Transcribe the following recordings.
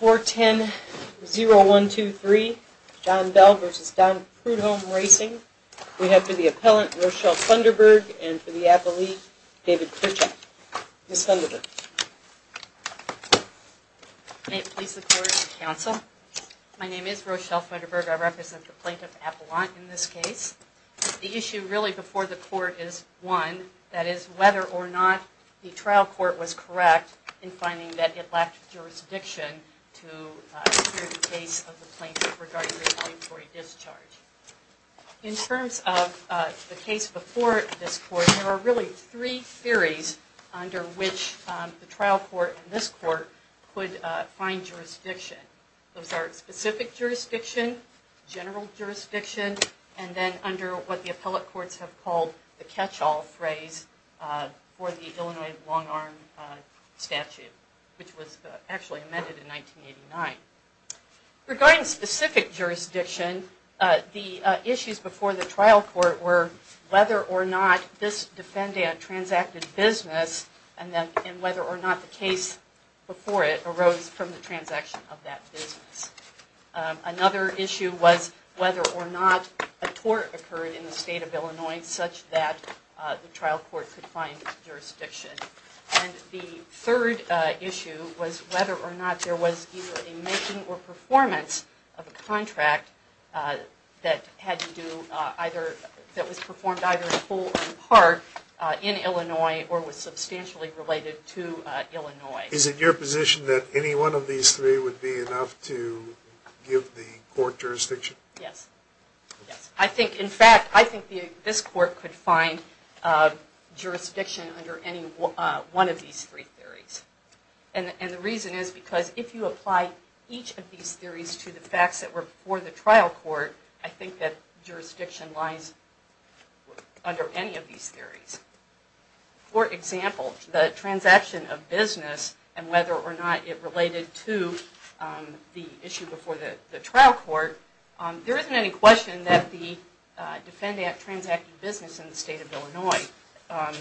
410-0123, John Bell v. Don Prudhome Racing. We have for the appellant, Rochelle Funderburg, and for the appellee, David Pritchett. Ms. Funderburg. May it please the court and counsel, my name is Rochelle Funderburg. I represent the plaintiff, Appelant, in this case. The issue really before the court is one, that is whether or not the trial court was correct in finding that it lacked jurisdiction to hear the case of the plaintiff regarding the mandatory discharge. In terms of the case before this court, there are really three theories under which the trial court and this court could find jurisdiction. Those are specific jurisdiction, general jurisdiction, and then under what the appellate courts have called the catch-all phrase for the Illinois long-arm statute, which was actually amended in 1989. Regarding specific jurisdiction, the issues before the trial court were whether or not this defendant transacted business and whether or not the case before it arose from the transaction of that business. Another issue was whether or not a tort occurred in the state of Illinois such that the trial court could find jurisdiction. And the third issue was whether or not there was either a making or performance of a contract that was performed either in full or in part in Illinois or was substantially related to Illinois. Is it your position that any one of these three would be enough to give the court jurisdiction? Yes. In fact, I think this court could find jurisdiction under any one of these three theories. And the reason is because if you apply each of these theories to the facts that were before the trial court, I think that jurisdiction lies under any of these theories. For example, the transaction of business and whether or not it related to the issue before the trial court, there isn't any question that the defendant transacted business in the state of Illinois.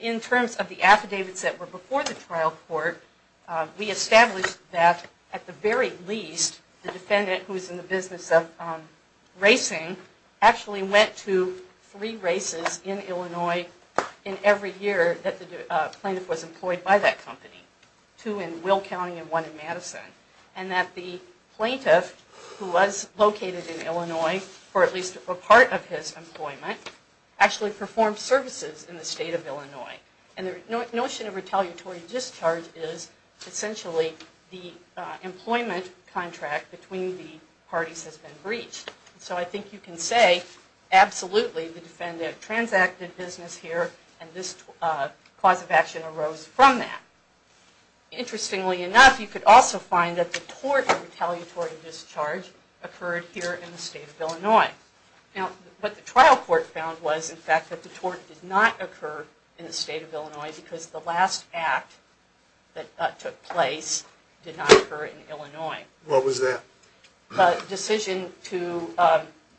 In terms of the affidavits that were before the trial court, we established that at the very least the defendant who was in the business of racing actually went to three races in Illinois in every year that the plaintiff was employed by that company. Two in Will County and one in Madison. And that the plaintiff, who was located in Illinois for at least a part of his employment, actually performed services in the state of Illinois. And the notion of retaliatory discharge is essentially the employment contract between the parties has been breached. So I think you can say absolutely the defendant transacted business here and this cause of action arose from that. Interestingly enough, you could also find that the tort of retaliatory discharge occurred here in the state of Illinois. Now, what the trial court found was in fact that the tort did not occur in the state of Illinois because the last act that took place did not occur in Illinois. What was that? The decision to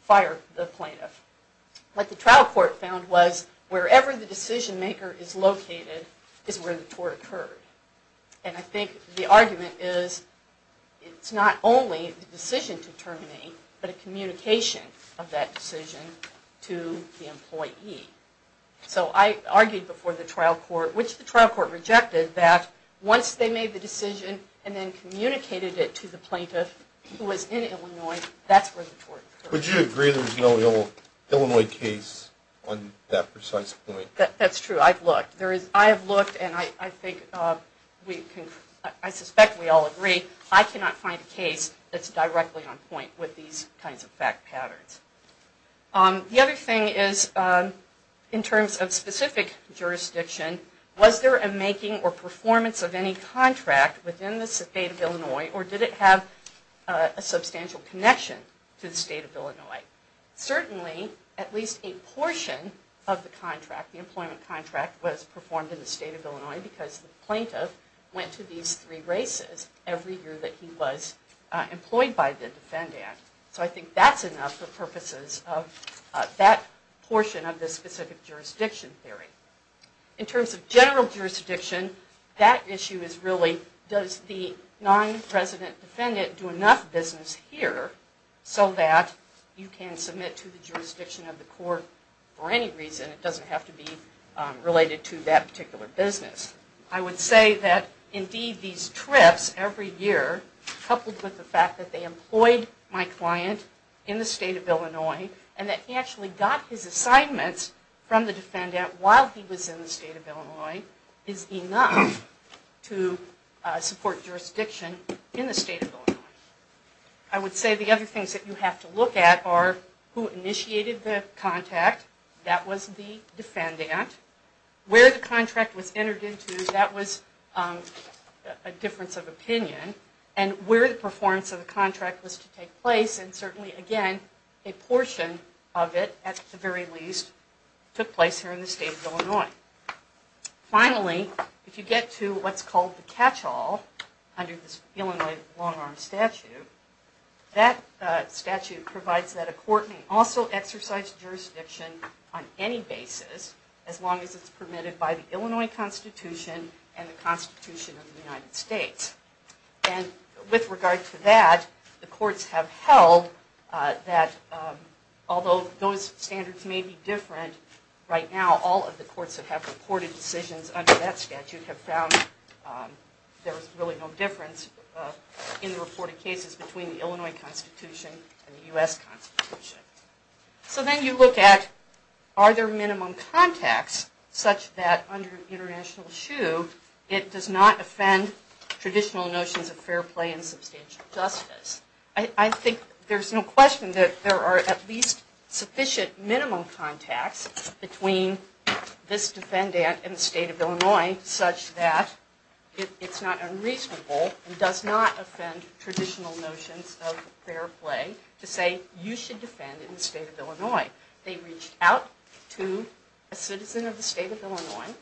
fire the plaintiff. What the trial court found was wherever the decision maker is located is where the tort occurred. And I think the argument is it's not only the decision to terminate, but a communication of that decision to the employee. So I argued before the trial court, which the trial court rejected, that once they made the decision and then communicated it to the plaintiff who was in Illinois, that's where the tort occurred. Would you agree there's no Illinois case on that precise point? That's true. I've looked. I have looked and I suspect we all agree I cannot find a case that's directly on point with these kinds of fact patterns. The other thing is in terms of specific jurisdiction, was there a making or performance of any contract within the state of Illinois or did it have a substantial connection to the state of Illinois? Certainly, at least a portion of the employment contract was performed in the state of Illinois because the plaintiff went to these three races every year that he was employed by the Defend Act. So I think that's enough for purposes of that portion of the specific jurisdiction theory. In terms of general jurisdiction, that issue is really does the non-resident defendant do enough business here so that you can submit to the jurisdiction of the court for any reason? It doesn't have to be related to that particular business. I would say that indeed these trips every year coupled with the fact that they employed my client in the state of Illinois and that he actually got his assignments from the Defend Act while he was in the state of Illinois is enough to support jurisdiction in the state of Illinois. I would say the other things that you have to look at are who initiated the contact, that was the defendant, where the contract was entered into, that was a difference of opinion, and where the performance of the contract was to take place and certainly again a portion of it at the very least took place here in the state of Illinois. Finally, if you get to what's called the catch-all under this Illinois long-arm statute, that statute provides that a court may also exercise jurisdiction on any basis as long as it's permitted by the Illinois Constitution and the Constitution of the United States. With regard to that, the courts have held that although those standards may be different right now, all of the courts that have reported decisions under that statute have found there was really no difference in the reported cases between the Illinois Constitution and the U.S. Constitution. So then you look at are there minimum contacts such that under international shoe it does not offend traditional notions of fair play and substantial justice. I think there's no question that there are at least sufficient minimum contacts between this defendant and the state of Illinois such that it's not unreasonable and does not offend traditional notions of fair play to say you should defend in the state of Illinois. They reached out to a citizen of the state of Illinois,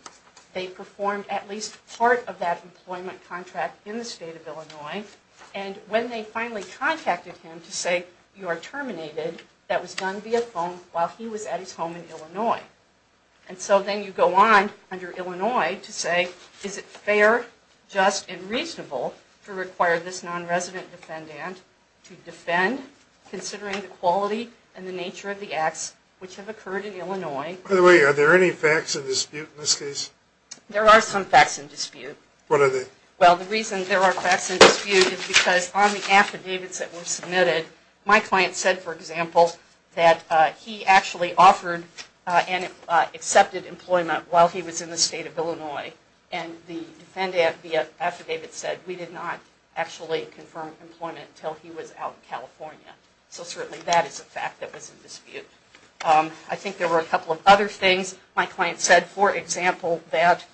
they performed at least part of that employment contract in the state of Illinois, and when they finally contacted him to say you are terminated, that was done via phone while he was at his home in Illinois. And so then you go on under Illinois to say is it fair, just, and reasonable to require this non-resident defendant to defend considering the quality and the nature of the acts which have occurred in Illinois. By the way, are there any facts in dispute in this case? There are some facts in dispute. What are they? Well, the reason there are facts in dispute is because on the affidavits that were submitted, my client said, for example, that he actually offered and accepted employment while he was in the state of Illinois. And the defendant via affidavit said we did not actually confirm employment until he was out in California. So certainly that is a fact that was in dispute. I think there were a couple of other things. My client said, for example, that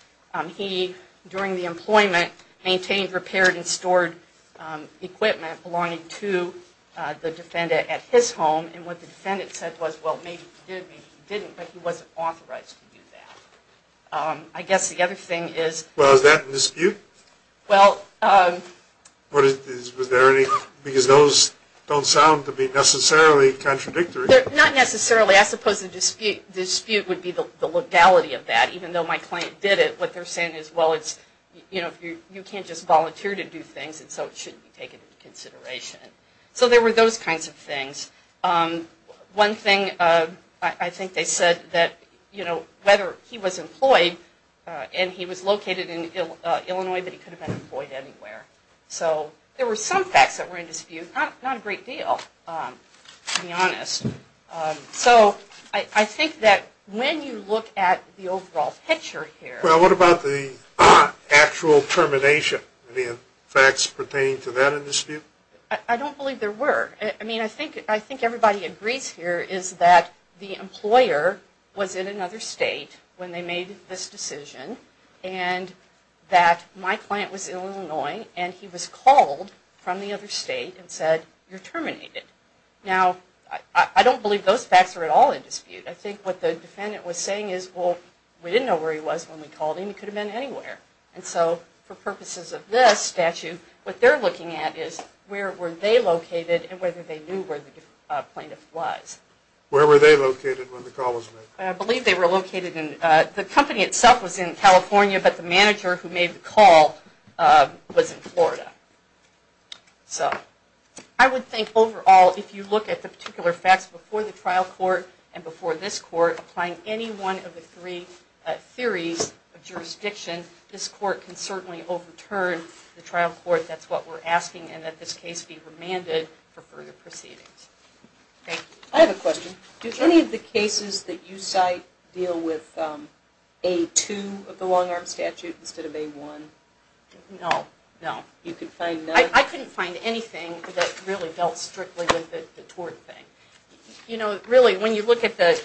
he, during the employment, maintained, repaired, and stored equipment belonging to the defendant at his home. And what the defendant said was, well, maybe he did, maybe he didn't, but he wasn't authorized to do that. I guess the other thing is... Well, is that in dispute? Well... Because those don't sound to be necessarily contradictory. Not necessarily. I suppose the dispute would be the legality of that. Even though my client did it, what they're saying is, well, it's, you know, you can't just volunteer to do things, and so it shouldn't be taken into consideration. So there were those kinds of things. One thing, I think they said that, you know, whether he was employed, and he was located in Illinois, but he could have been employed anywhere. So there were some facts that were in dispute. Not a great deal, to be honest. So I think that when you look at the overall picture here... Well, what about the actual termination? Any facts pertaining to that in dispute? I don't believe there were. I mean, I think everybody agrees here is that the employer was in another state when they made this decision, and that my client was in Illinois, and he was called from the other state and said, you're terminated. Now, I don't believe those facts are at all in dispute. I think what the defendant was saying is, well, we didn't know where he was when we called him. He could have been anywhere. And so, for purposes of this statute, what they're looking at is where were they located and whether they knew where the plaintiff was. Where were they located when the call was made? I believe they were located in... The company itself was in California, but the manager who made the call was in Florida. So I would think overall, if you look at the particular facts before the trial court and before this court, applying any one of the three theories of jurisdiction, this court can certainly overturn the trial court. That's what we're asking, and that this case be remanded for further proceedings. I have a question. Do any of the cases that you cite deal with A2 of the long-arm statute instead of A1? No. No. You can find none? I couldn't find anything that really dealt strictly with the tort thing. You know, really, when you look at the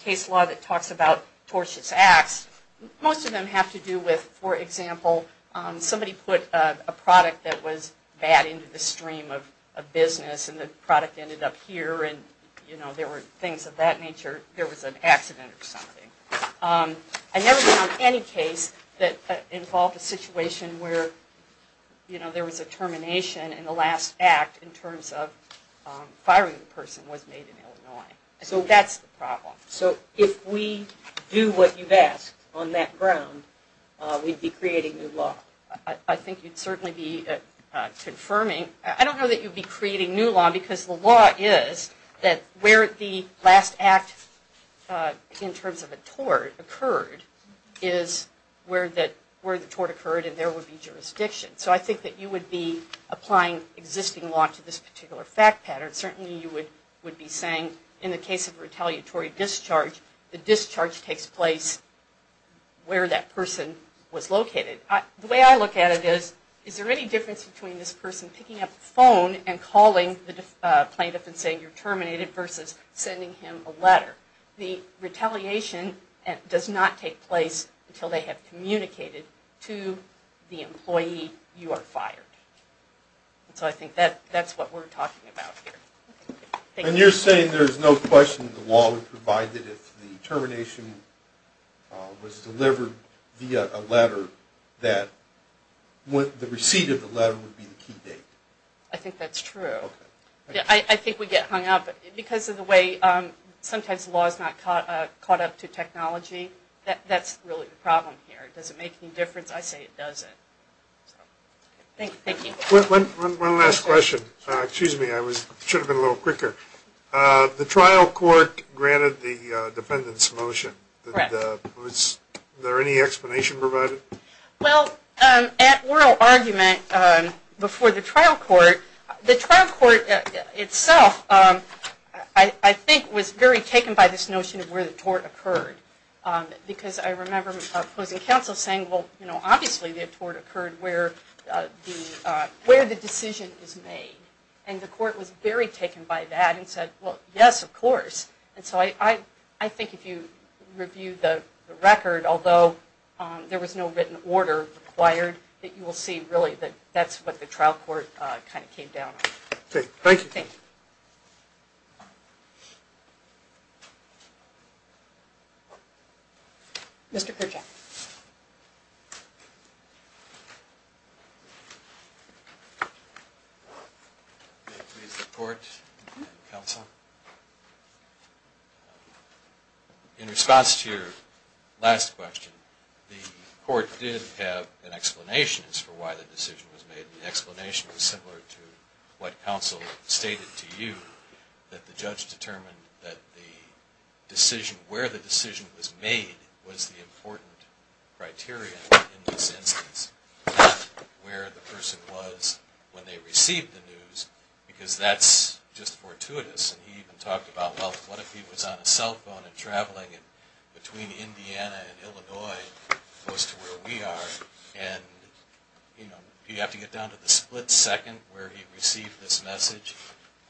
case law that talks about tortious acts, most of them have to do with, for example, somebody put a product that was bad into the stream of business, and the product ended up here and, you know, there were things of that nature. There was an accident or something. I never found any case that involved a situation where, you know, there was a termination in the last act in terms of firing the person was made in Illinois. So that's the problem. So if we do what you've asked on that ground, we'd be creating new law? I think you'd certainly be confirming. I don't know that you'd be creating new law because the law is that where the last act in terms of a tort occurred is where the tort occurred and there would be jurisdiction. So I think that you would be applying existing law to this particular fact pattern. Certainly you would be saying in the case of retaliatory discharge, the discharge takes place where that person was located. The way I look at it is, is there any difference between this person picking up the phone and calling the plaintiff and saying you're terminated versus sending him a letter? The retaliation does not take place until they have communicated to the employee you are fired. So I think that's what we're talking about here. And you're saying there's no question the law would provide that if the termination was delivered via a letter, that the receipt of the letter would be the key date? I think that's true. I think we get hung up because of the way sometimes the law is not caught up to technology. That's really the problem here. Does it make any difference? I say it doesn't. Thank you. One last question. Excuse me. I should have been a little quicker. The trial court granted the defendant's motion. Was there any explanation provided? Well, at oral argument before the trial court, the trial court itself I think was very taken by this notion of where the tort occurred. Because I remember opposing counsel saying, well, you know, obviously the tort occurred where the decision is made. And the court was very taken by that and said, well, yes, of course. And so I think if you review the record, although there was no written order required, that you will see really that that's what the trial court kind of came down on. Thank you. Thank you. Mr. Kerjack. May it please the court and counsel. In response to your last question, the court did have an explanation as to why the decision was made. The explanation was similar to what counsel stated to you, that the judge determined that the decision, where the decision was made was the important criteria in this instance, not where the person was when they received the news, because that's just fortuitous. And he even talked about, well, what if he was on a cell phone and traveling between Indiana and Illinois, close to where we are, and you have to get down to the split second where he received this message.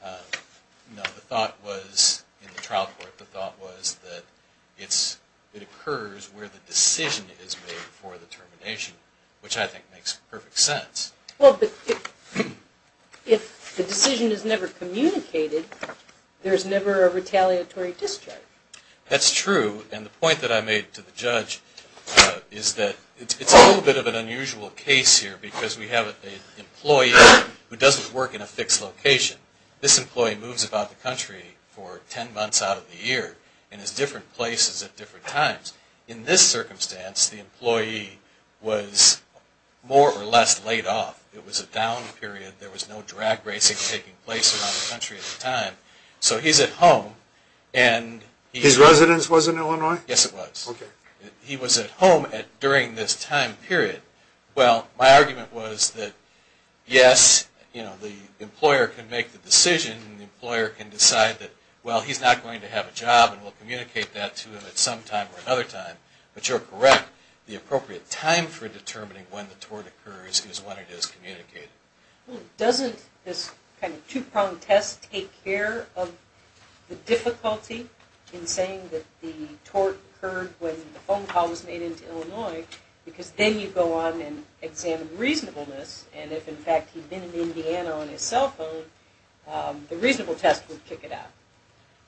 The thought was, in the trial court, the thought was that it occurs where the decision is made for the termination, which I think makes perfect sense. Well, but if the decision is never communicated, there's never a retaliatory discharge. That's true. And the point that I made to the judge is that it's a little bit of an unusual case here because we have an employee who doesn't work in a fixed location. This employee moves about the country for ten months out of the year and is different places at different times. In this circumstance, the employee was more or less laid off. It was a down period. There was no drag racing taking place around the country at the time. So he's at home. His residence was in Illinois? Yes, it was. Okay. He was at home during this time period. Well, my argument was that, yes, the employer can make the decision and the employer can decide that, well, he's not going to have a job and we'll communicate that to him at some time or another time. But you're correct. The appropriate time for determining when the tort occurs is when it is communicated. Doesn't this kind of two-pronged test take care of the difficulty in saying that the tort occurred when the phone call was made into Illinois because then you go on and examine reasonableness and if, in fact, he'd been in Indiana on his cell phone, the reasonable test would kick it out.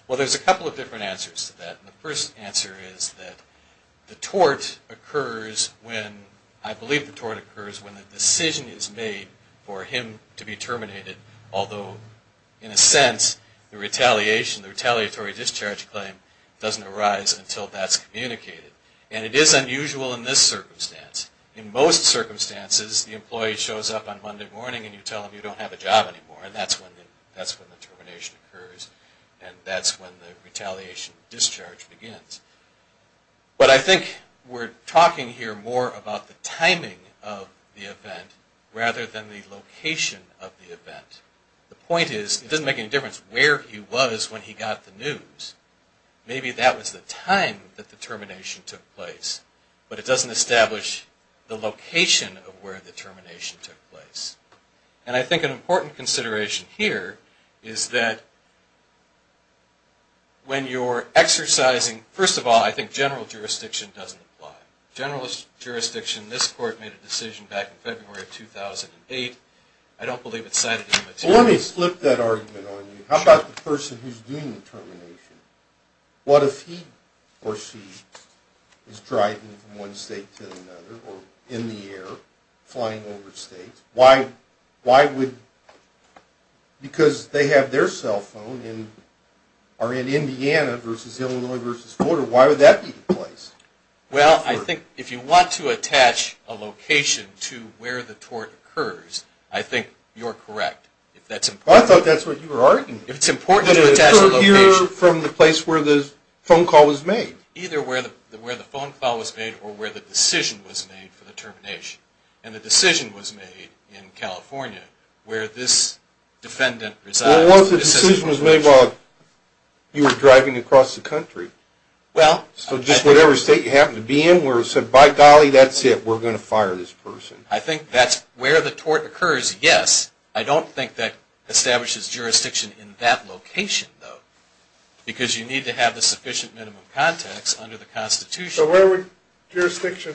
Well, there's a couple of different answers to that. The first answer is that the tort occurs when, I believe the tort occurs when the decision is made for him to be terminated, although, in a sense, the retaliation, the retaliatory discharge claim doesn't arise until that's communicated. And it is unusual in this circumstance. In most circumstances, the employee shows up on Monday morning and you tell him you don't have a job anymore and that's when the termination occurs and that's when the retaliation discharge begins. But I think we're talking here more about the timing of the event rather than the location of the event. The point is, it doesn't make any difference where he was when he got the news. Maybe that was the time that the termination took place, but it doesn't establish the location of where the termination took place. And I think an important consideration here is that when you're exercising, first of all, I think general jurisdiction doesn't apply. General jurisdiction, this court made a decision back in February of 2008. I don't believe it's cited in the materials. Well, let me slip that argument on you. How about the person who's doing the termination? What if he or she is driving from one state to another or in the air flying over states? Why would – because they have their cell phone and are in Indiana versus Illinois versus Florida. Why would that be the place? Well, I think if you want to attach a location to where the tort occurs, I think you're correct. Well, I thought that's what you were arguing. If it's important to attach a location. But it occurred here from the place where the phone call was made. Either where the phone call was made or where the decision was made for the termination. And the decision was made in California where this defendant resides. Well, the decision was made while you were driving across the country. So just whatever state you happen to be in where it said, by golly, that's it, we're going to fire this person. I think that's where the tort occurs, yes. I don't think that establishes jurisdiction in that location, though. Because you need to have the sufficient minimum context under the Constitution. So where would jurisdiction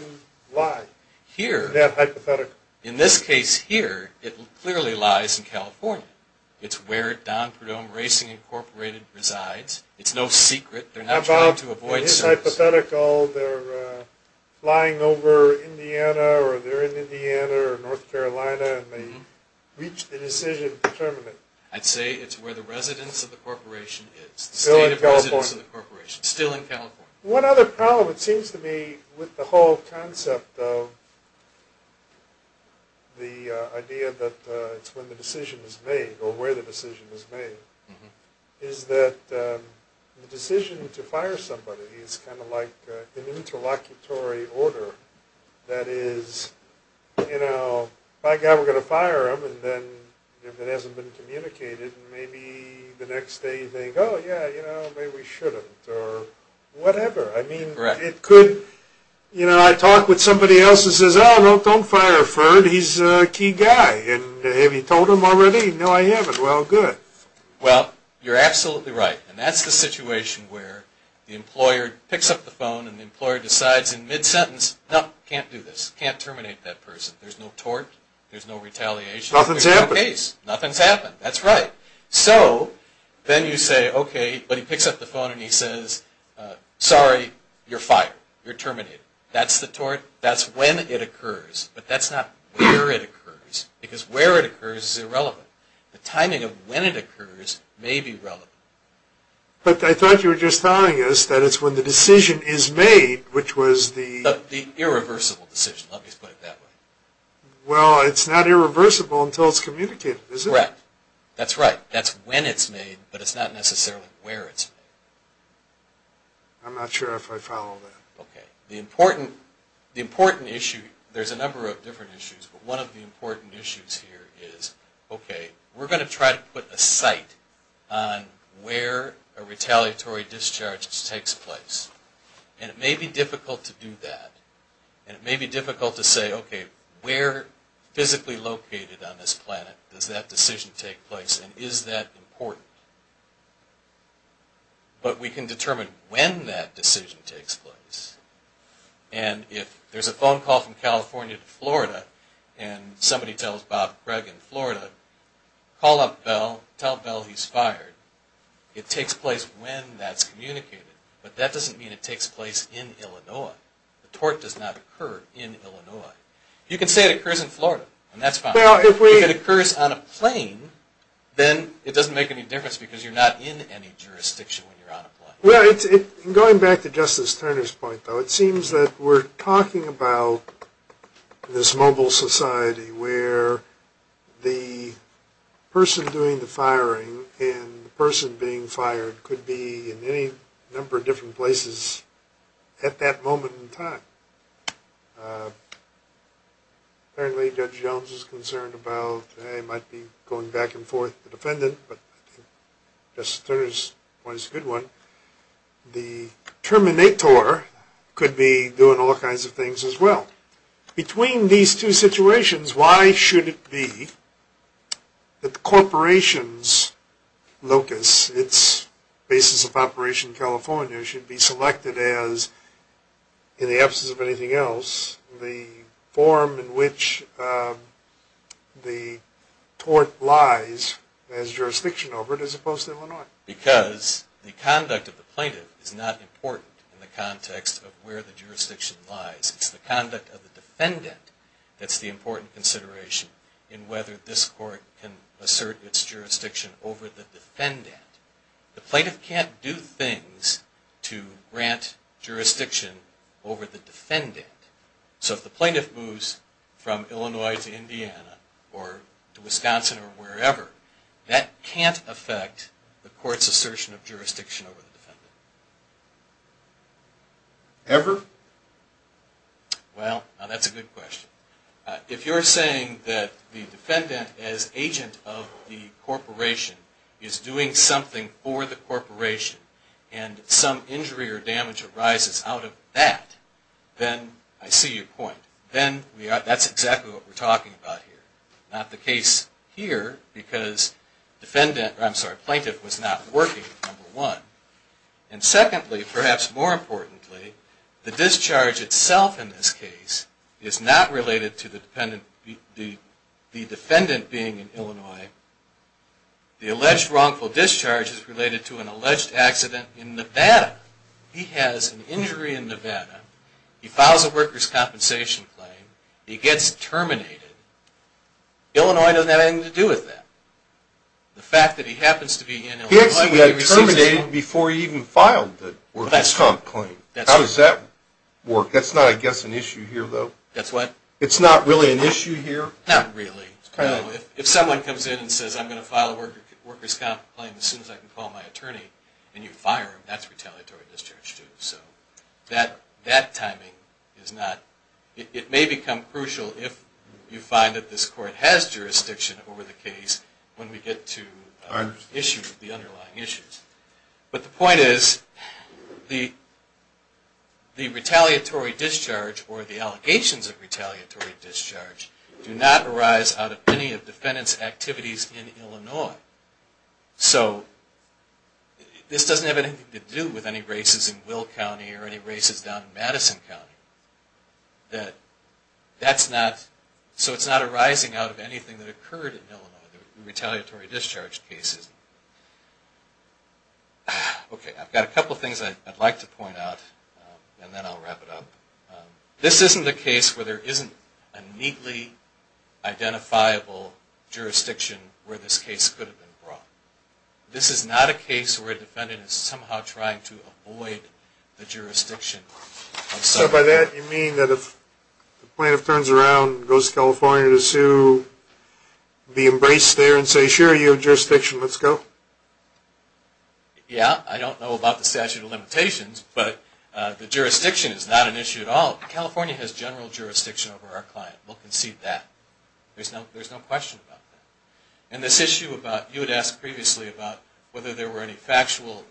lie? Here. In that hypothetical. In this case here, it clearly lies in California. It's where Don Perdomo Racing Incorporated resides. It's no secret. They're not trying to avoid service. In this hypothetical, they're flying over Indiana or they're in Indiana or North Carolina and they reach the decision to terminate. I'd say it's where the residence of the corporation is. It's the state of residence of the corporation. Still in California. One other problem, it seems to me, with the whole concept of the idea that it's when the decision is made or where the decision is made, is that the decision to fire somebody is kind of like an interlocutory order. That is, you know, by God, we're going to fire him. And then if it hasn't been communicated, maybe the next day you think, oh, yeah, you know, maybe we shouldn't or whatever. I mean, it could, you know, I talk with somebody else who says, oh, well, don't fire Ferd. He's a key guy. And have you told him already? No, I haven't. Well, good. Well, you're absolutely right. And that's the situation where the employer picks up the phone and the employer decides in mid-sentence, no, can't do this. Can't terminate that person. There's no tort. There's no retaliation. Nothing's happened. Nothing's happened. That's right. So then you say, okay, but he picks up the phone and he says, sorry, you're fired. You're terminated. That's the tort. That's when it occurs. But that's not where it occurs. Because where it occurs is irrelevant. The timing of when it occurs may be relevant. But I thought you were just telling us that it's when the decision is made, which was the – The irreversible decision. Let me just put it that way. Well, it's not irreversible until it's communicated, is it? Correct. That's right. That's when it's made, but it's not necessarily where it's made. I'm not sure if I follow that. Okay. The important issue, there's a number of different issues, but one of the important issues here is, okay, we're going to try to put a site on where a retaliatory discharge takes place. And it may be difficult to do that. And it may be difficult to say, okay, where physically located on this planet does that decision take place, and is that important? But we can determine when that decision takes place. And if there's a phone call from California to Florida and somebody tells Bob Gregg in Florida, call up Bell, tell Bell he's fired. It takes place when that's communicated. But that doesn't mean it takes place in Illinois. The tort does not occur in Illinois. You can say it occurs in Florida, and that's fine. If it occurs on a plane, then it doesn't make any difference because you're not in any jurisdiction when you're on a plane. Going back to Justice Turner's point, though, it seems that we're talking about this mobile society where the person doing the firing and the person being fired could be in any number of different places at that moment in time. Apparently Judge Jones is concerned about, hey, it might be going back and forth with the defendant, but Justice Turner's point is a good one. The terminator could be doing all kinds of things as well. Between these two situations, why should it be that the corporation's locus, its basis of operation in California, should be selected as, in the absence of anything else, the form in which the tort lies as jurisdiction over it as opposed to Illinois? Because the conduct of the plaintiff is not important in the context of where the jurisdiction lies. It's the conduct of the defendant that's the important consideration in whether this court can assert its jurisdiction over the defendant. The plaintiff can't do things to grant jurisdiction over the defendant. So if the plaintiff moves from Illinois to Indiana or to Wisconsin or wherever, that can't affect the court's assertion of jurisdiction over the defendant. Ever? Well, now that's a good question. If you're saying that the defendant, as agent of the corporation, is doing something for the corporation and some injury or damage arises out of that, then I see your point. That's exactly what we're talking about here. Not the case here because plaintiff was not working, number one. And secondly, perhaps more importantly, the discharge itself in this case is not related to the defendant being in Illinois. The alleged wrongful discharge is related to an alleged accident in Nevada. He has an injury in Nevada. He files a workers' compensation claim. He gets terminated. Illinois doesn't have anything to do with that. The fact that he happens to be in Illinois... He actually got terminated before he even filed the workers' compensation claim. How does that work? That's not, I guess, an issue here, though. It's not really an issue here? Not really. If someone comes in and says, I'm going to file a workers' compensation claim as soon as I can call my attorney and you fire him, that's retaliatory discharge, too. That timing is not... It may become crucial if you find that this court has jurisdiction over the case when we get to the underlying issues. But the point is, the retaliatory discharge or the allegations of retaliatory discharge do not arise out of any of defendant's activities in Illinois. So this doesn't have anything to do with any races in Will County or any races down in Madison County. That's not... So it's not arising out of anything that occurred in Illinois, the retaliatory discharge cases. Okay, I've got a couple of things I'd like to point out, and then I'll wrap it up. This isn't a case where there isn't a neatly identifiable jurisdiction where this case could have been brought. This is not a case where a defendant is somehow trying to avoid the jurisdiction. So by that, you mean that if the plaintiff turns around and goes to California to sue, be embraced there and say, sure, you have jurisdiction, let's go? Yeah, I don't know about the statute of limitations, but the jurisdiction is not an issue at all. California has general jurisdiction over our client. We'll concede that. There's no question about that. And this issue about... You had asked previously about whether there were any factual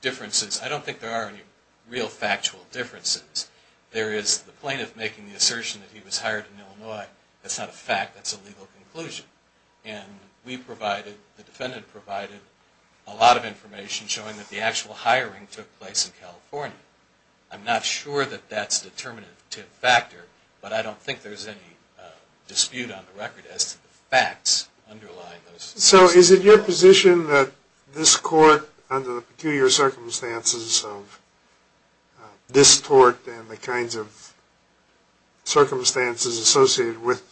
differences. I don't think there are any real factual differences. There is the plaintiff making the assertion that he was hired in Illinois. That's not a fact. That's a legal conclusion. And we provided, the defendant provided, a lot of information showing that the actual hiring took place in California. I'm not sure that that's a determinative factor, but I don't think there's any dispute on the record as to the facts underlying those... So is it your position that this court, under the peculiar circumstances of this court and the kinds of circumstances associated with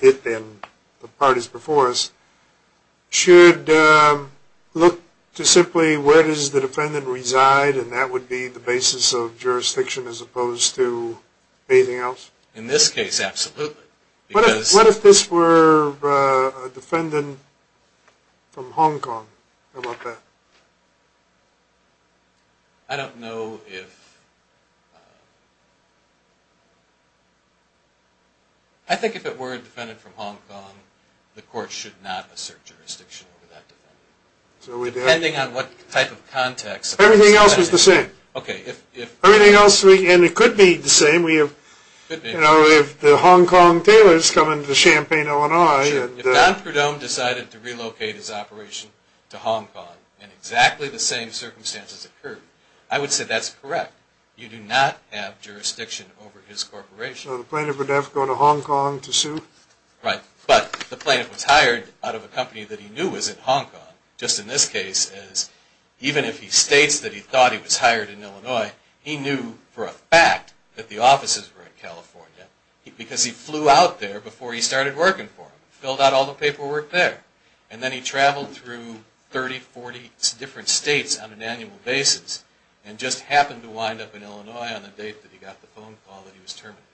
it and the parties before us, should look to simply where does the defendant reside and that would be the basis of jurisdiction as opposed to anything else? In this case, absolutely. What if this were a defendant from Hong Kong? How about that? I don't know if... I think if it were a defendant from Hong Kong, the court should not assert jurisdiction over that defendant. Depending on what type of context... Everything else is the same. Everything else, and it could be the same. If the Hong Kong tailors come into Champaign, Illinois... If Don Perdome decided to relocate his operation to Hong Kong and exactly the same circumstances occurred, I would say that's correct. You do not have jurisdiction over his corporation. So the plaintiff would have to go to Hong Kong to sue? Right. But the plaintiff was hired out of a company that he knew was in Hong Kong. Just in this case, even if he states that he thought he was hired in Illinois, he knew for a fact that the offices were in California because he flew out there before he started working for them. Filled out all the paperwork there. And then he traveled through 30, 40 different states on an annual basis and just happened to wind up in Illinois on the date that he got the phone call that he was terminated.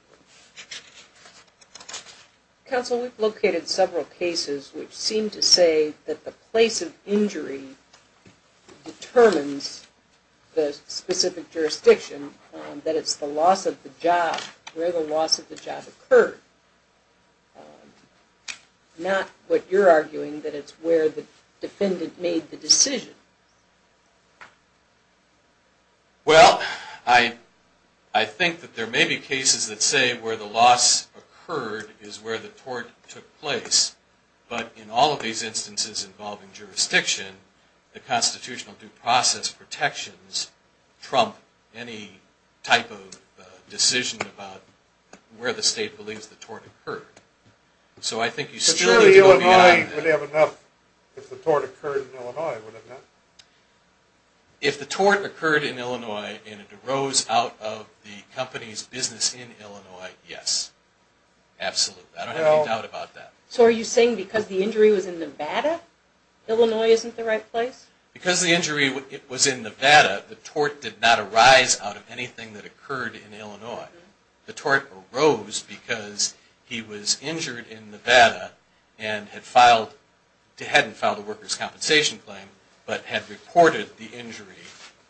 Counsel, we've located several cases which seem to say that the place of injury determines the specific jurisdiction, that it's the loss of the job, where the loss of the job occurred. Not what you're arguing, that it's where the defendant made the decision. Well, I think that there may be cases that say where the loss occurred is where the tort took place. But in all of these instances involving jurisdiction, the constitutional due process protections trump any type of decision about where the state believes the tort occurred. So I think you still need to go beyond that. But surely Illinois would have enough if the tort occurred in Illinois, If the tort occurred in Illinois and it arose out of the company's business in Illinois, yes. Absolutely. I don't have any doubt about that. So are you saying because the injury was in Nevada, Illinois isn't the right place? Because the injury was in Nevada, the tort did not arise out of anything that occurred in Illinois. The tort arose because he was injured in Nevada and hadn't filed a worker's compensation claim, but had reported the injury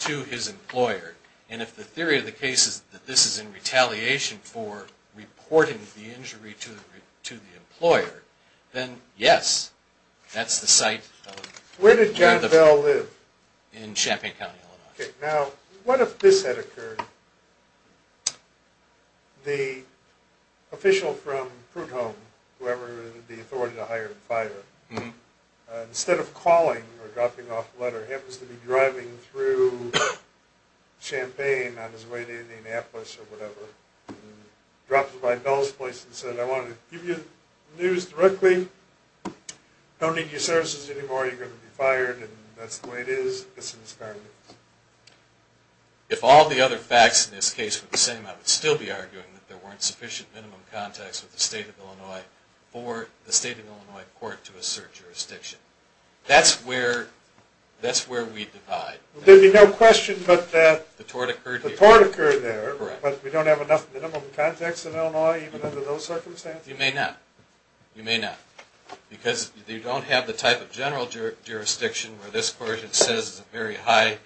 to his employer. And if the theory of the case is that this is in retaliation for reporting the injury to the employer, then yes, that's the site. Where did John Bell live? In Champaign County, Illinois. Now, what if this had occurred? The official from Prudhome, whoever the authority to hire and fire, instead of calling or dropping off a letter, happens to be driving through Champaign on his way to Indianapolis or whatever, drops by Bell's place and says, I want to give you the news directly, don't need your services anymore, you're going to be fired, and that's the way it is. If all the other facts in this case were the same, I would still be arguing that there weren't sufficient minimum contacts with the state of Illinois for the state of Illinois court to assert jurisdiction. That's where we divide. There'd be no question but that the tort occurred there, but we don't have enough minimum contacts in Illinois even under those circumstances? You may not. You may not. Because you don't have the type of general jurisdiction where this court says it's a very high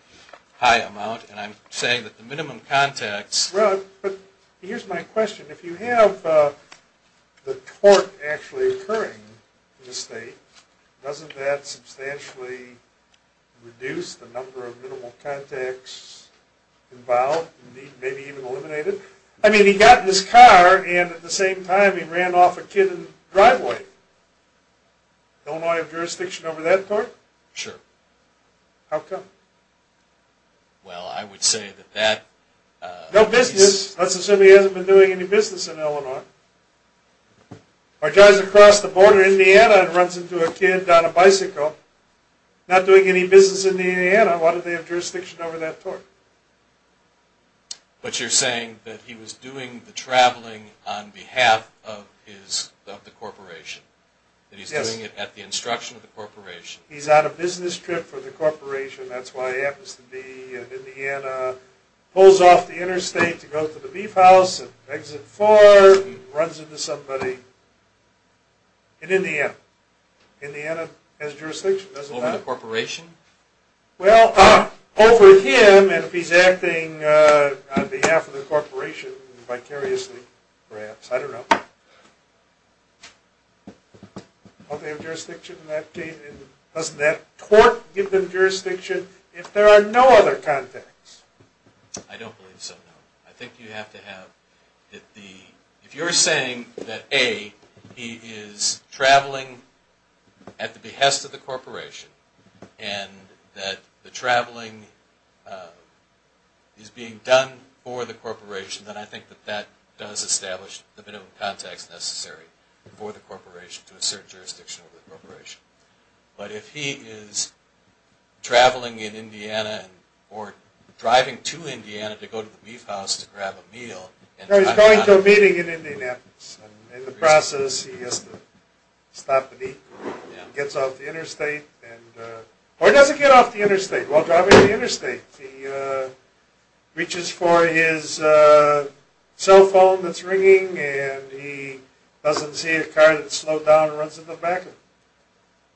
amount, and I'm saying that the minimum contacts... Here's my question. If you have the tort actually occurring in the state, doesn't that substantially reduce the number of minimal contacts involved, maybe even eliminate it? I mean, he got in his car, and at the same time, he ran off a kid in the driveway. Illinois have jurisdiction over that tort? Sure. How come? Well, I would say that that... No business. Let's assume he hasn't been doing any business in Illinois. Or drives across the border in Indiana and runs into a kid on a bicycle. Not doing any business in Indiana, why do they have jurisdiction over that tort? But you're saying that he was doing the traveling on behalf of the corporation, that he's doing it at the instruction of the corporation. He's on a business trip for the corporation. That's why he happens to be in Indiana, pulls off the interstate to go to the beef house and exit Ford and runs into somebody in Indiana. Indiana has jurisdiction, doesn't it? Over the corporation? Well, over him, and if he's acting on behalf of the corporation vicariously, perhaps. I don't know. Don't they have jurisdiction in that case? Doesn't that tort give them jurisdiction if there are no other contacts? I don't believe so, no. I think you have to have... If you're saying that, A, he is traveling at the behest of the corporation, and that the traveling is being done for the corporation, then I think that that does establish the bit of context necessary for the corporation to assert jurisdiction over the corporation. But if he is traveling in Indiana, or driving to Indiana to go to the beef house to grab a meal... No, he's going to a meeting in Indianapolis. In the process, he has to stop the beef, gets off the interstate, or doesn't get off the interstate while driving to the interstate. He reaches for his cell phone that's ringing, and he doesn't see a car that's slowed down and runs into the back of him.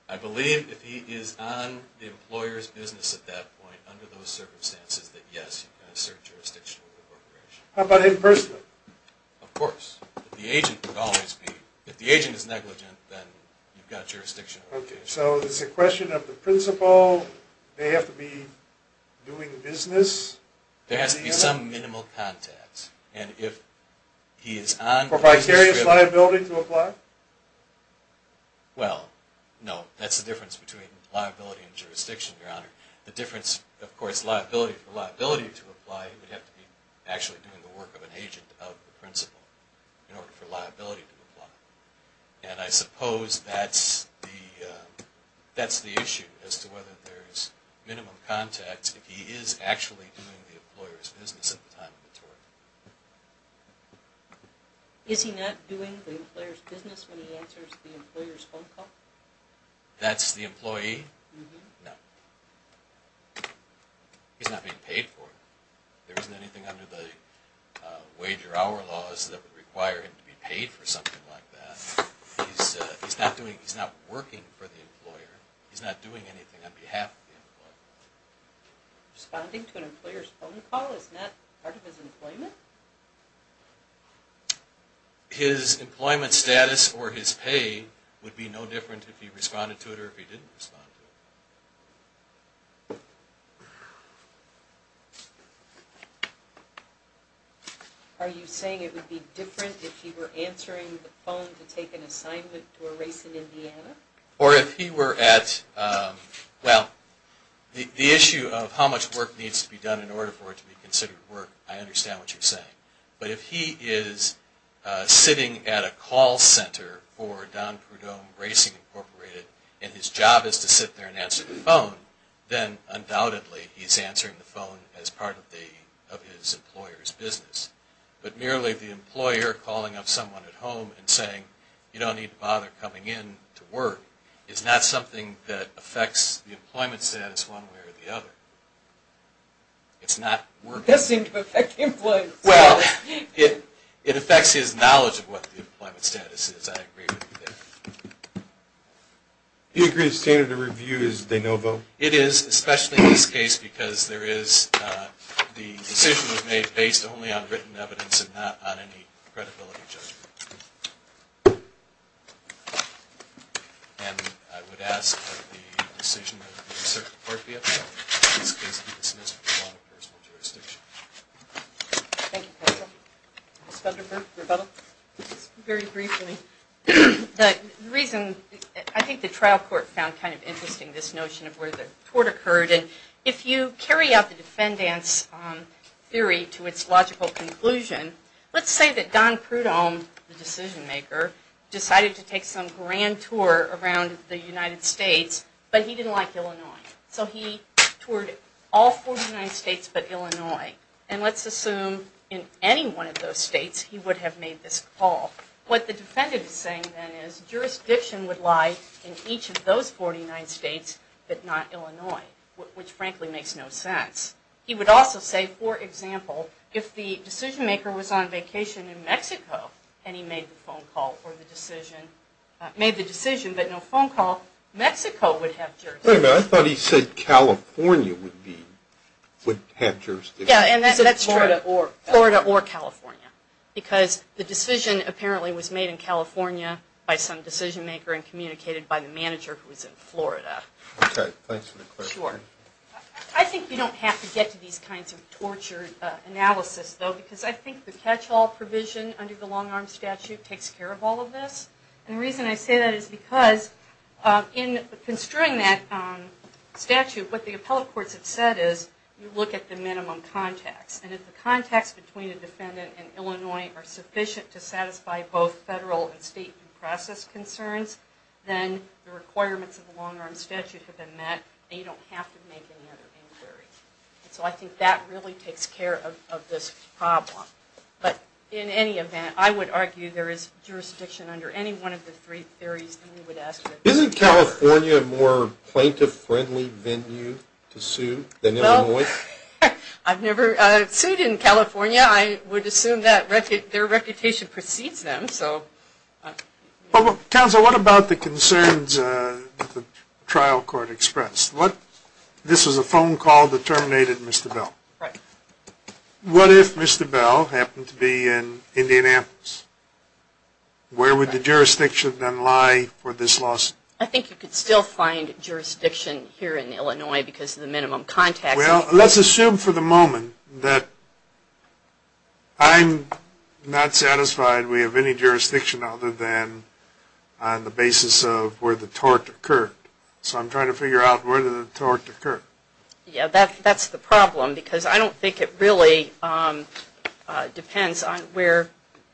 I believe if he is on the employer's business at that point, under those circumstances, that yes, you can assert jurisdiction over the corporation. How about in person? Of course. The agent would always be... If the agent is negligent, then you've got jurisdiction over him. Okay, so it's a question of the principal, they have to be doing business... There has to be some minimal context. And if he is on... For vicarious liability to apply? Well, no. That's the difference between liability and jurisdiction, Your Honor. The difference, of course, for liability to apply, he would have to be actually doing the work of an agent of the principal in order for liability to apply. And I suppose that's the issue, as to whether there's minimum context if he is actually doing the employer's business at the time of the tort. Is he not doing the employer's business when he answers the employer's phone call? That's the employee? No. He's not being paid for it. There isn't anything under the wage or hour laws that would require him to be paid for something like that. He's not working for the employer. He's not doing anything on behalf of the employer. Responding to an employer's phone call is not part of his employment? His employment status or his pay would be no different if he responded to it or if he didn't respond to it. Are you saying it would be different if he were answering the phone to take an assignment to a race in Indiana? Or if he were at, well, the issue of how much work needs to be done in order for it to be considered work, I understand what you're saying. But if he is sitting at a call center for Don Perdomo Racing Incorporated and his job is to sit there and answer the phone, then undoubtedly he's answering the phone as part of his employer's business. But merely the employer calling up someone at home and saying, you don't need to bother coming in to work, is not something that affects the employment status one way or the other. It's not work. Well, it affects his knowledge of what the employment status is. I agree with you there. You agree the standard of review is they no vote? It is, especially in this case, because the decision was made based only on written evidence and not on any credibility judgment. And I would ask that the decision of the circuit court be upheld. Thank you, counsel. Ms. Thunderbird, rebuttal? Just very briefly, the reason, I think the trial court found kind of interesting, this notion of where the tort occurred. And if you carry out the defendant's theory to its logical conclusion, let's say that Don Perdomo, the decision maker, decided to take some grand tour around the United States, but he didn't like Illinois. So he toured all 49 states but Illinois. And let's assume in any one of those states, he would have made this call. What the defendant is saying then is jurisdiction would lie in each of those 49 states but not Illinois, which frankly makes no sense. He would also say, for example, if the decision maker was on vacation in Mexico and he made the decision but no phone call, Mexico would have jurisdiction. Wait a minute. I thought he said California would have jurisdiction. Yeah, and that's true. Florida or California. Because the decision apparently was made in California by some decision maker and communicated by the manager who was in Florida. Okay. Thanks for the clarification. Sure. I think you don't have to get to these kinds of tortured analysis, though, because I think the catch-all provision under the long-arm statute takes care of all of this. And the reason I say that is because in construing that statute, what the appellate courts have said is you look at the minimum context. And if the context between the defendant and Illinois are sufficient to satisfy both federal and state due process concerns, then the requirements of the long-arm statute have been met and you don't have to make any other inquiry. So I think that really takes care of this problem. But in any event, I would argue there is jurisdiction under any one of the three theories that we would ask for. Isn't California a more plaintiff-friendly venue to sue than Illinois? Well, I've never sued in California. I would assume that their reputation precedes them. Counsel, what about the concerns that the trial court expressed? This was a phone call that terminated Mr. Bell. Right. What if Mr. Bell happened to be in Indianapolis? Where would the jurisdiction then lie for this lawsuit? I think you could still find jurisdiction here in Illinois because of the minimum context. Well, let's assume for the moment that I'm not satisfied we have any jurisdiction other than on the basis of where the tort occurred. So I'm trying to figure out where the tort occurred. Yeah, that's the problem because I don't think it really depends on where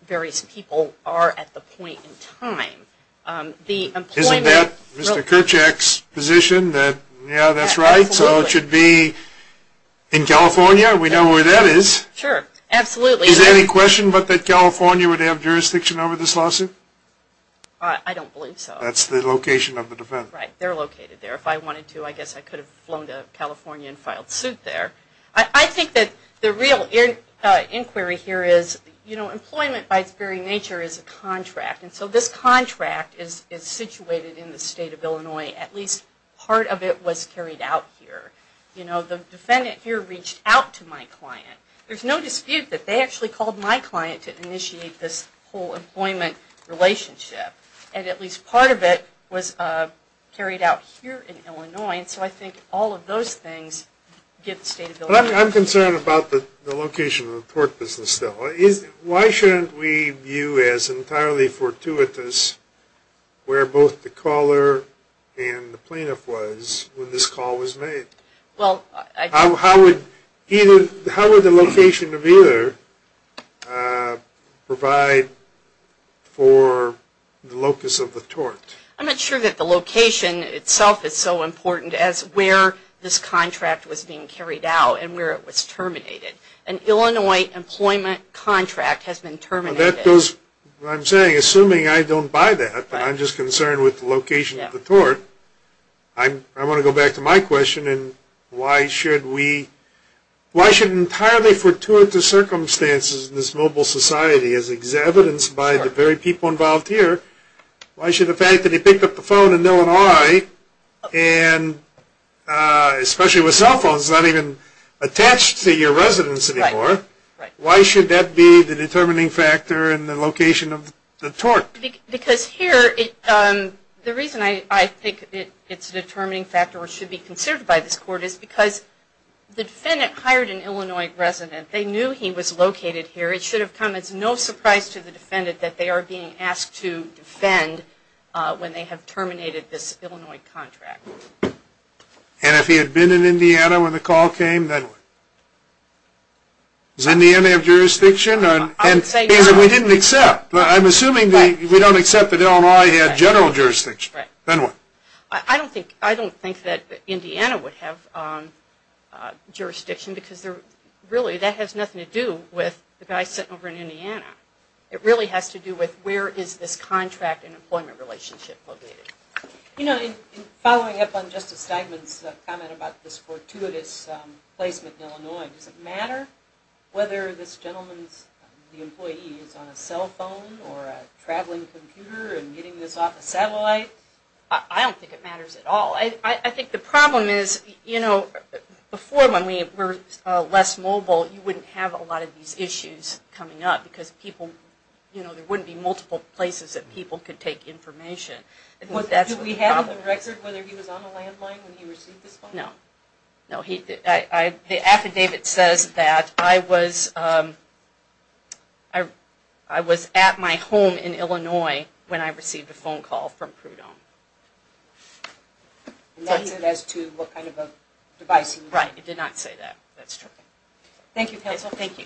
various people are at the point in time. Isn't that Mr. Kerchak's position that, yeah, that's right, so it should be in California? We know where that is. Sure, absolutely. Is there any question but that California would have jurisdiction over this lawsuit? I don't believe so. That's the location of the defense. Right, they're located there. If I wanted to, I guess I could have flown to California and filed suit there. I think that the real inquiry here is, you know, employment by its very nature is a contract. And so this contract is situated in the state of Illinois. At least part of it was carried out here. You know, the defendant here reached out to my client. There's no dispute that they actually called my client to initiate this whole employment relationship. And at least part of it was carried out here in Illinois. And so I think all of those things get the state of Illinois. I'm concerned about the location of the tort business still. Why shouldn't we view as entirely fortuitous where both the caller and the plaintiff was when this call was made? How would the location of either provide for the locus of the tort? I'm not sure that the location itself is so important as where this contract was being carried out and where it was terminated. An Illinois employment contract has been terminated. I'm saying, assuming I don't buy that, I want to go back to my question and why should we, why should entirely fortuitous circumstances in this mobile society, as evidenced by the very people involved here, why should the fact that he picked up the phone in Illinois, and especially with cell phones not even attached to your residence anymore, why should that be the determining factor in the location of the tort? Because here, the reason I think it's a determining factor or should be considered by this court, is because the defendant hired an Illinois resident. They knew he was located here. It should have come as no surprise to the defendant that they are being asked to defend when they have terminated this Illinois contract. And if he had been in Indiana when the call came, then what? Does Indiana have jurisdiction? We didn't accept. I'm assuming we don't accept that Illinois had general jurisdiction. Then what? I don't think that Indiana would have jurisdiction, because really that has nothing to do with the guy sitting over in Indiana. It really has to do with where is this contract and employment relationship located. You know, following up on Justice Steigman's comment about this fortuitous placement in Illinois, does it matter whether this gentleman's employee is on a cell phone or a traveling computer and getting this off a satellite? I don't think it matters at all. I think the problem is, you know, before when we were less mobile, you wouldn't have a lot of these issues coming up because people, you know, there wouldn't be multiple places that people could take information. Did we have a record whether he was on a landline when he received this phone? No. The affidavit says that I was at my home in Illinois when I received a phone call from Prudhomme. And that's as to what kind of device he was using? Right. It did not say that. That's true. Thank you, Council. Thank you.